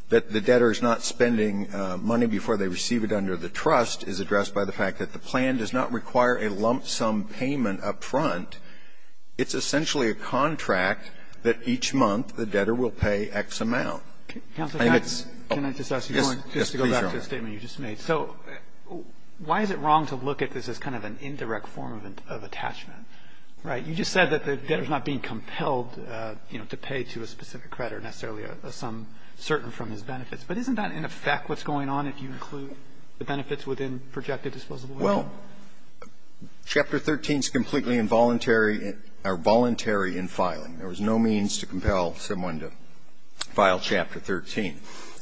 that the debtor is not spending money before they receive it under the trust is addressed by the fact that the plan does not require a lump sum payment up front. It's essentially a contract that each month the debtor will pay X amount. I think it's oh, yes, yes, please, Your Honor. Can I just ask you one, just to go back to the statement you just made. So why is it wrong to look at this as kind of an indirect form of attachment? Right? You just said that the debtor is not being compelled, you know, to pay to a specific creditor necessarily a sum certain from his benefits. But isn't that in effect what's going on if you include the benefits within projected disposable? Well, Chapter 13 is completely involuntary or voluntary in filing. There was no means to compel someone to file Chapter 13.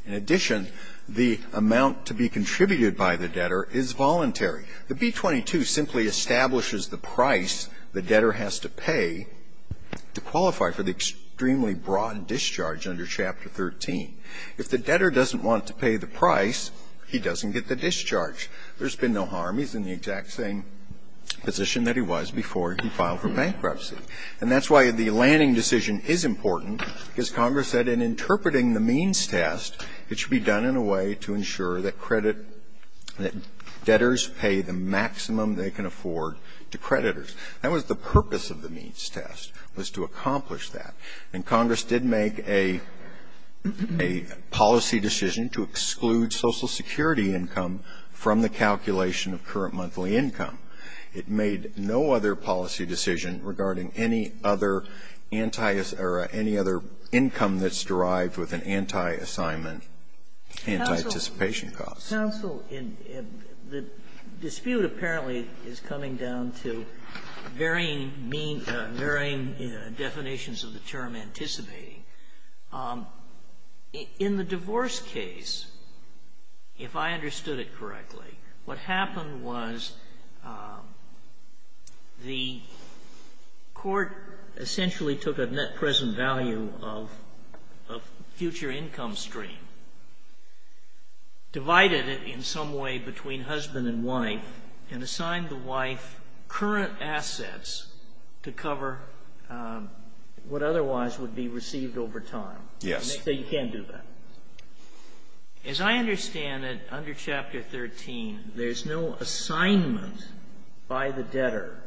In addition, the amount to be contributed by the debtor is voluntary. The B-22 simply establishes the price the debtor has to pay to qualify for the extremely broad discharge under Chapter 13. If the debtor doesn't want to pay the price, he doesn't get the discharge. There's been no harm. He's in the exact same position that he was before he filed for bankruptcy. And that's why the Lanning decision is important, because Congress said in interpreting the means test, it should be done in a way to ensure that credit, that debtors pay the maximum they can afford to creditors. That was the purpose of the means test, was to accomplish that. And Congress did make a policy decision to exclude Social Security income from the calculation of current monthly income. It made no other policy decision regarding any other income that's derived with an anti-assignment, anti-anticipation cost. Counsel, the dispute apparently is coming down to varying definitions of the term anticipating. In the divorce case, if I understood it correctly, what happened was the court essentially took a net present value of future income stream, divided it by the debtor, divided it in some way between husband and wife, and assigned the wife current assets to cover what otherwise would be received over time. Yes. So you can't do that. As I understand it, under Chapter 13, there's no assignment by the debtor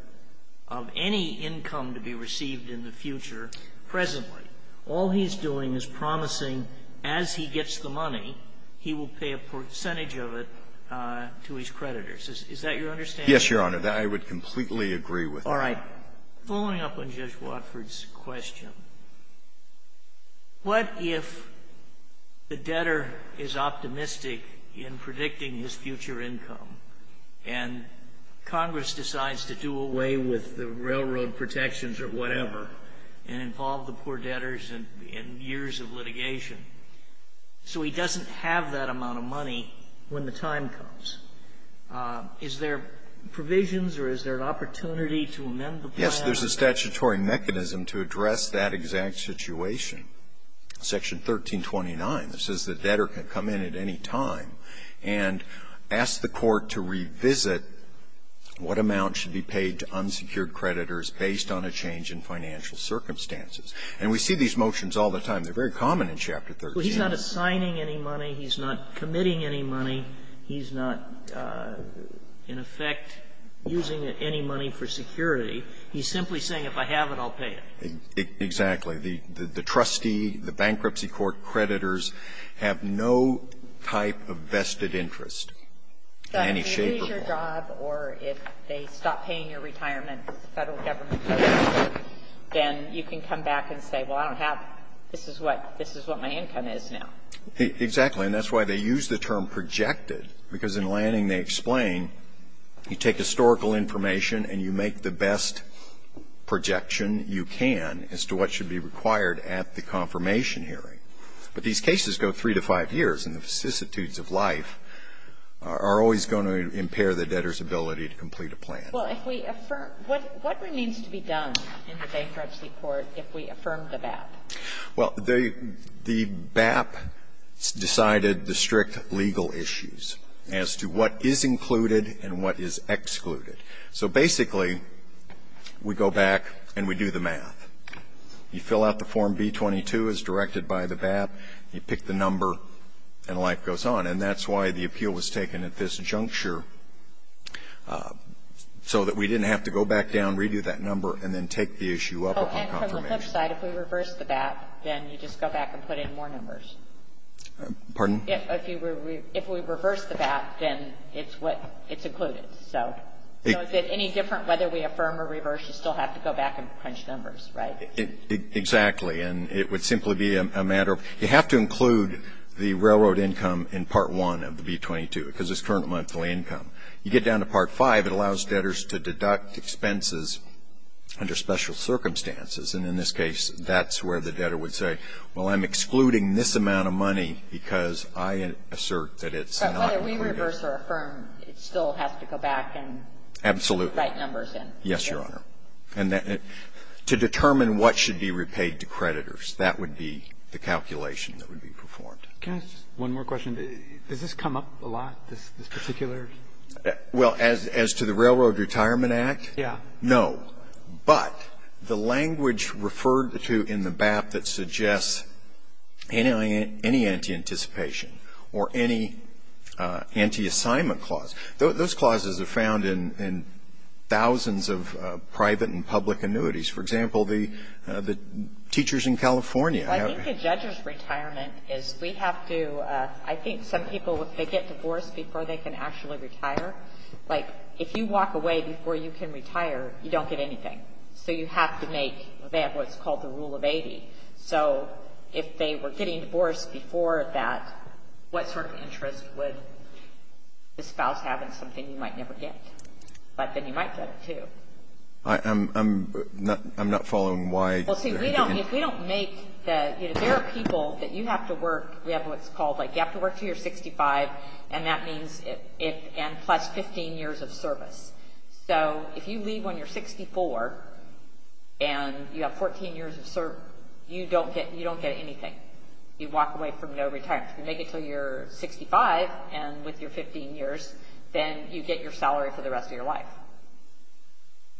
of any income to be received in the future presently. All he's doing is promising, as he gets the money, he will pay a percentage of it to his creditors. Is that your understanding? Yes, Your Honor. I would completely agree with that. All right. Following up on Judge Watford's question, what if the debtor is optimistic in predicting his future income, and Congress decides to do away with the railroad protections or whatever, and involve the poor debtors in years of litigation? So he doesn't have that amount of money when the time comes. Is there provisions or is there an opportunity to amend the plan? Yes. There's a statutory mechanism to address that exact situation. Section 1329 says the debtor can come in at any time and ask the court to revisit what amount should be paid to unsecured creditors based on a change in financial circumstances. And we see these motions all the time. They're very common in Chapter 13. Well, he's not assigning any money. He's not committing any money. He's not, in effect, using any money for security. He's simply saying, if I have it, I'll pay it. Exactly. in any shape or form. If they lose your job or if they stop paying your retirement as the Federal Government says, then you can come back and say, well, I don't have this. This is what my income is now. Exactly. And that's why they use the term projected, because in Lanning they explain you take historical information and you make the best projection you can as to what should be required at the confirmation hearing. But these cases go three to five years, and the vicissitudes of life are always going to impair the debtor's ability to complete a plan. Well, if we affirm what remains to be done in the bankruptcy court if we affirm the BAP? Well, the BAP decided the strict legal issues as to what is included and what is excluded. So basically, we go back and we do the math. You fill out the Form B-22 as directed by the BAP. You pick the number, and life goes on. And that's why the appeal was taken at this juncture, so that we didn't have to go back down, redo that number, and then take the issue up on confirmation. Oh, and from the flip side, if we reverse the BAP, then you just go back and put in more numbers. Pardon? If we reverse the BAP, then it's included. So is it any different whether we affirm or reverse? You still have to go back and crunch numbers, right? Exactly. And it would simply be a matter of you have to include the railroad income in Part 1 of the B-22, because it's current monthly income. You get down to Part 5, it allows debtors to deduct expenses under special circumstances. And in this case, that's where the debtor would say, well, I'm excluding this amount of money because I assert that it's not included. But whether we reverse or affirm, it still has to go back and put the right numbers Absolutely. Yes, Your Honor. And to determine what should be repaid to creditors, that would be the calculation that would be performed. Can I ask just one more question? Does this come up a lot, this particular? Well, as to the Railroad Retirement Act? Yes. No. But the language referred to in the BAP that suggests any anti-anticipation or any anti-assignment clause. Those clauses are found in thousands of private and public annuities. For example, the teachers in California. Well, I think a judge's retirement is we have to – I think some people, if they get divorced before they can actually retire, like, if you walk away before you can retire, you don't get anything. So you have to make what's called the Rule of 80. So if they were getting divorced before that, what sort of interest would the spouse have in something you might never get? But then you might get it, too. I'm not following why – Well, see, we don't – if we don't make the – you know, there are people that you have to work – we have what's called, like, you have to work until you're 65, and that means – and plus 15 years of service. So if you leave when you're 64 and you have 14 years of service, you don't get anything. You walk away from no retirement. If you make it until you're 65 and with your 15 years, then you get your salary for the rest of your life.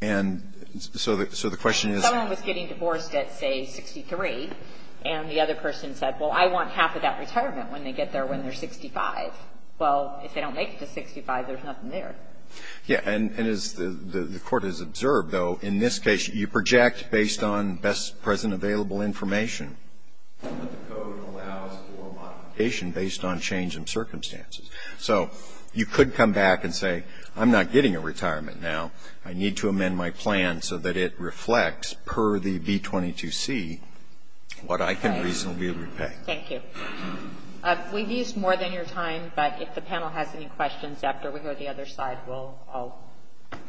And so the question is – Someone was getting divorced at, say, 63, and the other person said, well, I want half of that retirement when they get there when they're 65. Well, if they don't make it to 65, there's nothing there. Yeah. And as the Court has observed, though, in this case, you project based on best present available information, but the code allows for modification based on change in circumstances. So you could come back and say, I'm not getting a retirement now. I need to amend my plan so that it reflects, per the B-22C, what I can reasonably be able to pay. Thank you. We've used more than your time, but if the panel has any questions after we go to the other side, we'll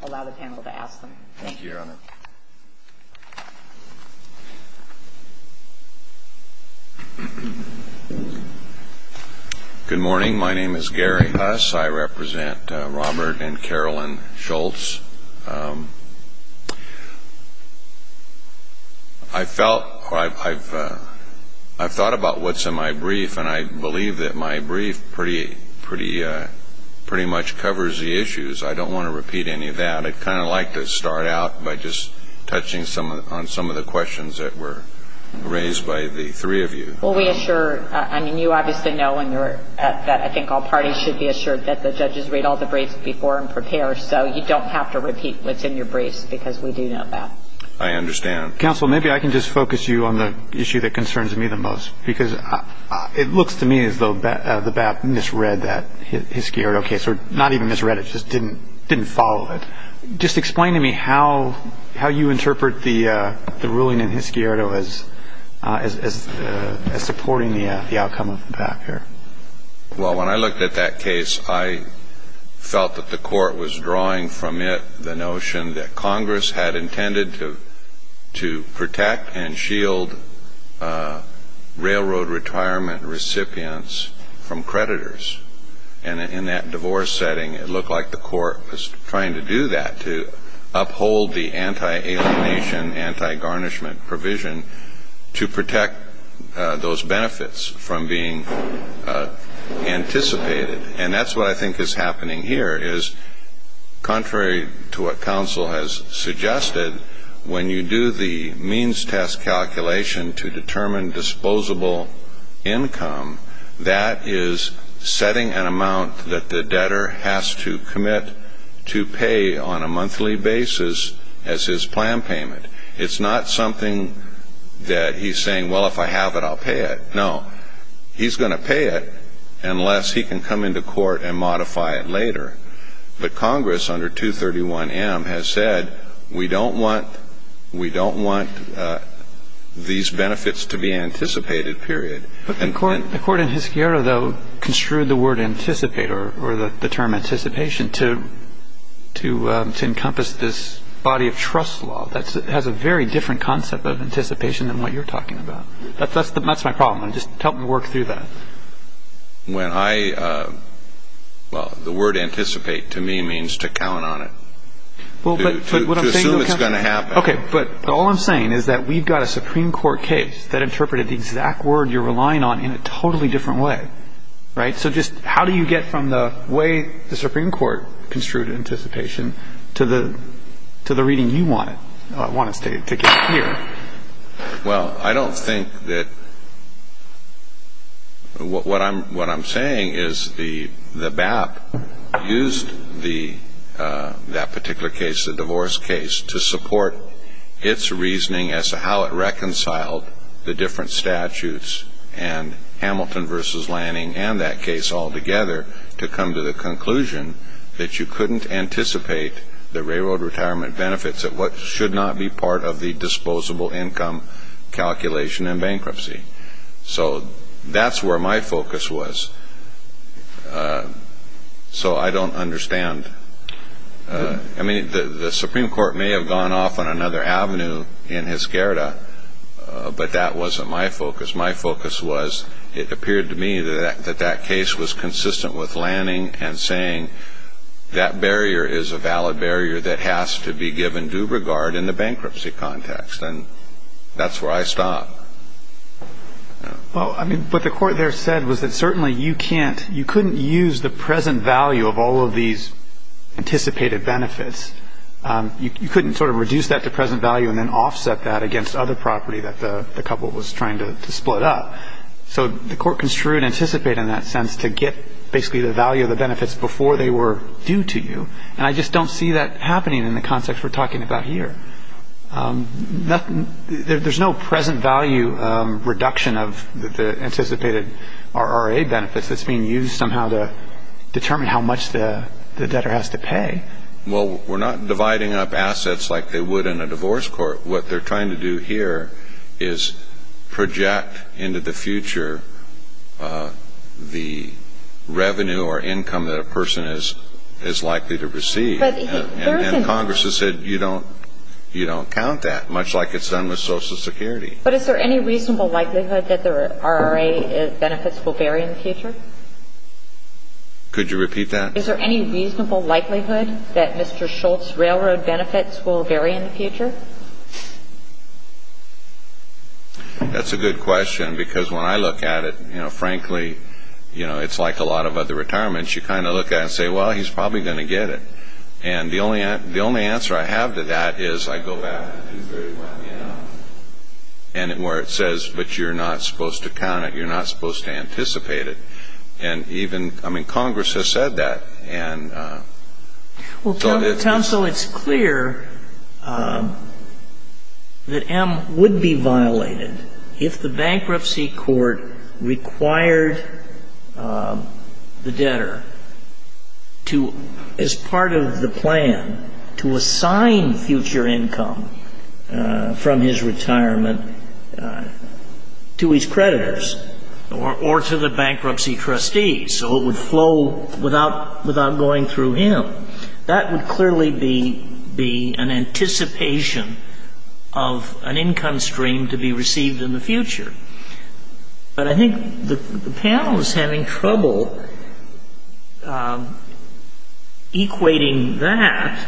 allow the panel to ask them. Thank you, Your Honor. Good morning. My name is Gary Huss. I represent Robert and Carolyn Schultz. I've thought about what's in my brief, and I believe that my brief pretty much covers the issues. I don't want to repeat any of that. I'd kind of like to start out by just touching on some of the questions that were raised by the three of you. Well, we assure, I mean, you obviously know, and I think all parties should be assured that the judges read all the briefs before and prepare, so you don't have to repeat what's in your briefs, because we do know that. I understand. Counsel, maybe I can just focus you on the issue that concerns me the most, because it didn't follow it. Just explain to me how you interpret the ruling in Hiscioto as supporting the outcome of the PAC here. Well, when I looked at that case, I felt that the court was drawing from it the notion that Congress had intended to protect and shield railroad retirement recipients from creditors. And in that divorce setting, it looked like the court was trying to do that, to uphold the anti-alienation, anti-garnishment provision to protect those benefits from being anticipated. And that's what I think is happening here, is contrary to what counsel has suggested, when you do the means test calculation to determine disposable income, that is setting an amount that the debtor has to commit to pay on a monthly basis as his plan payment. It's not something that he's saying, well, if I have it, I'll pay it. No. He's going to pay it unless he can come into court and modify it later. But Congress, under 231M, has said, we don't want these benefits to be anticipated, period. But the court in Hiscioto, though, construed the word anticipate or the term anticipation to encompass this body of trust law that has a very different concept of anticipation than what you're talking about. That's my problem. Just help me work through that. When I – well, the word anticipate to me means to count on it, to assume it's going to happen. Okay, but all I'm saying is that we've got a Supreme Court case that interpreted the exact word you're relying on in a totally different way, right? So just how do you get from the way the Supreme Court construed anticipation to the reading you want us to get here? Well, I don't think that – what I'm saying is the BAP used that particular case, the divorce case, to support its reasoning as to how it reconciled the different statutes and Hamilton v. Lanning and that case altogether to come to the conclusion that you couldn't anticipate the railroad retirement benefits that should not be part of the disposable income calculation in bankruptcy. So that's where my focus was. So I don't understand. I mean, the Supreme Court may have gone off on another avenue in Hiscioto, but that wasn't my focus. My focus was it appeared to me that that case was consistent with Lanning and saying that barrier is a valid barrier that has to be given due regard in the bankruptcy context, and that's where I stopped. Well, I mean, what the court there said was that certainly you can't – you couldn't use the present value of all of these anticipated benefits. You couldn't sort of reduce that to present value and then offset that against other property that the couple was trying to split up. So the court construed anticipate in that sense to get basically the value of the benefits before they were due to you, and I just don't see that happening in the context we're talking about here. There's no present value reduction of the anticipated RRA benefits that's being used somehow to determine how much the debtor has to pay. Well, we're not dividing up assets like they would in a divorce court. What they're trying to do here is project into the future the revenue or income that a person is likely to receive. And Congress has said you don't count that, much like it's done with Social Security. But is there any reasonable likelihood that the RRA benefits will vary in the future? Could you repeat that? Is there any reasonable likelihood that Mr. Schultz's railroad benefits will vary in the future? That's a good question because when I look at it, you know, frankly, you know, it's like a lot of other retirements. You kind of look at it and say, well, he's probably going to get it. And the only answer I have to that is I go back to 231, you know, and where it says, but you're not supposed to count it. You're not supposed to anticipate it. I mean, Congress has said that. Well, counsel, it's clear that M would be violated if the bankruptcy court required the debtor to, as part of the plan, to assign future income from his retirement to his creditors. Or to the bankruptcy trustees. So it would flow without going through him. That would clearly be an anticipation of an income stream to be received in the future. But I think the panel is having trouble equating that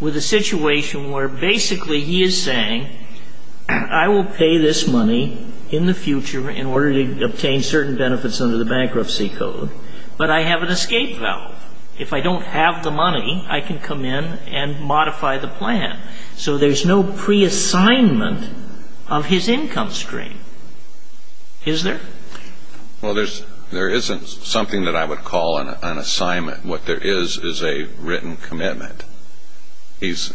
with a situation where basically he is saying, I will pay this money in the future in order to obtain certain benefits under the bankruptcy code. But I have an escape valve. If I don't have the money, I can come in and modify the plan. So there's no preassignment of his income stream, is there? Well, there isn't something that I would call an assignment. What there is is a written commitment. He's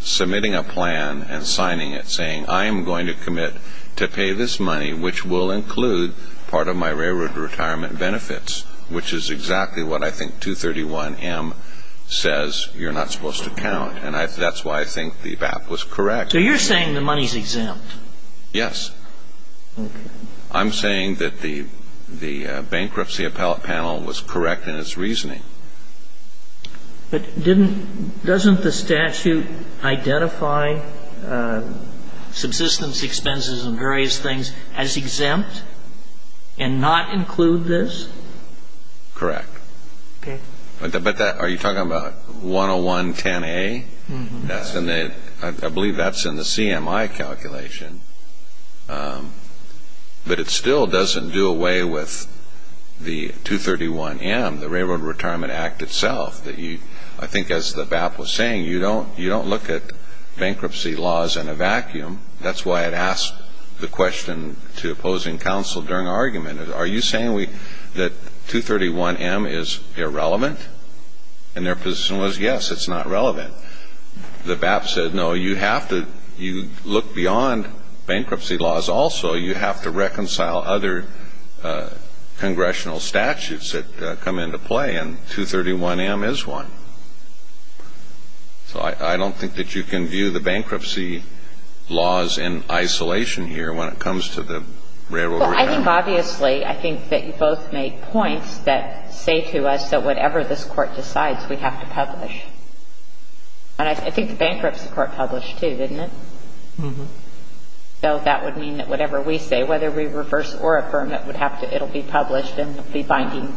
submitting a plan and signing it saying, I am going to commit to pay this money, which will include part of my railroad retirement benefits, which is exactly what I think 231M says you're not supposed to count. And that's why I think the BAP was correct. So you're saying the money is exempt? Yes. I'm saying that the bankruptcy appellate panel was correct in its reasoning. But doesn't the statute identify subsistence expenses and various things as exempt and not include this? Correct. Okay. But are you talking about 10110A? Mm-hmm. I believe that's in the CMI calculation. But it still doesn't do away with the 231M, the Railroad Retirement Act itself. I think as the BAP was saying, you don't look at bankruptcy laws in a vacuum. That's why it asked the question to opposing counsel during argument, are you saying that 231M is irrelevant? And their position was, yes, it's not relevant. The BAP said, no, you have to look beyond bankruptcy laws also. You have to reconcile other congressional statutes that come into play, and 231M is one. So I don't think that you can view the bankruptcy laws in isolation here when it comes to the Railroad Retirement Act. I think, obviously, I think that you both make points that say to us that whatever this Court decides, we have to publish. And I think the bankruptcy court published, too, didn't it? Mm-hmm. So that would mean that whatever we say, whether we reverse or affirm it, would have to be published and be binding,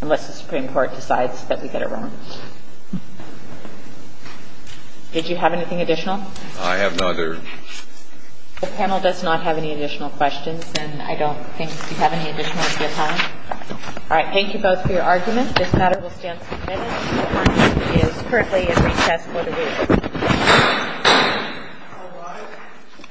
unless the Supreme Court decides that we get it wrong. Did you have anything additional? I have no other. The panel does not have any additional questions, and I don't think we have any additional time. All right. Thank you both for your arguments. This matter will stand submitted. The Court is currently in recess for the week. All rise.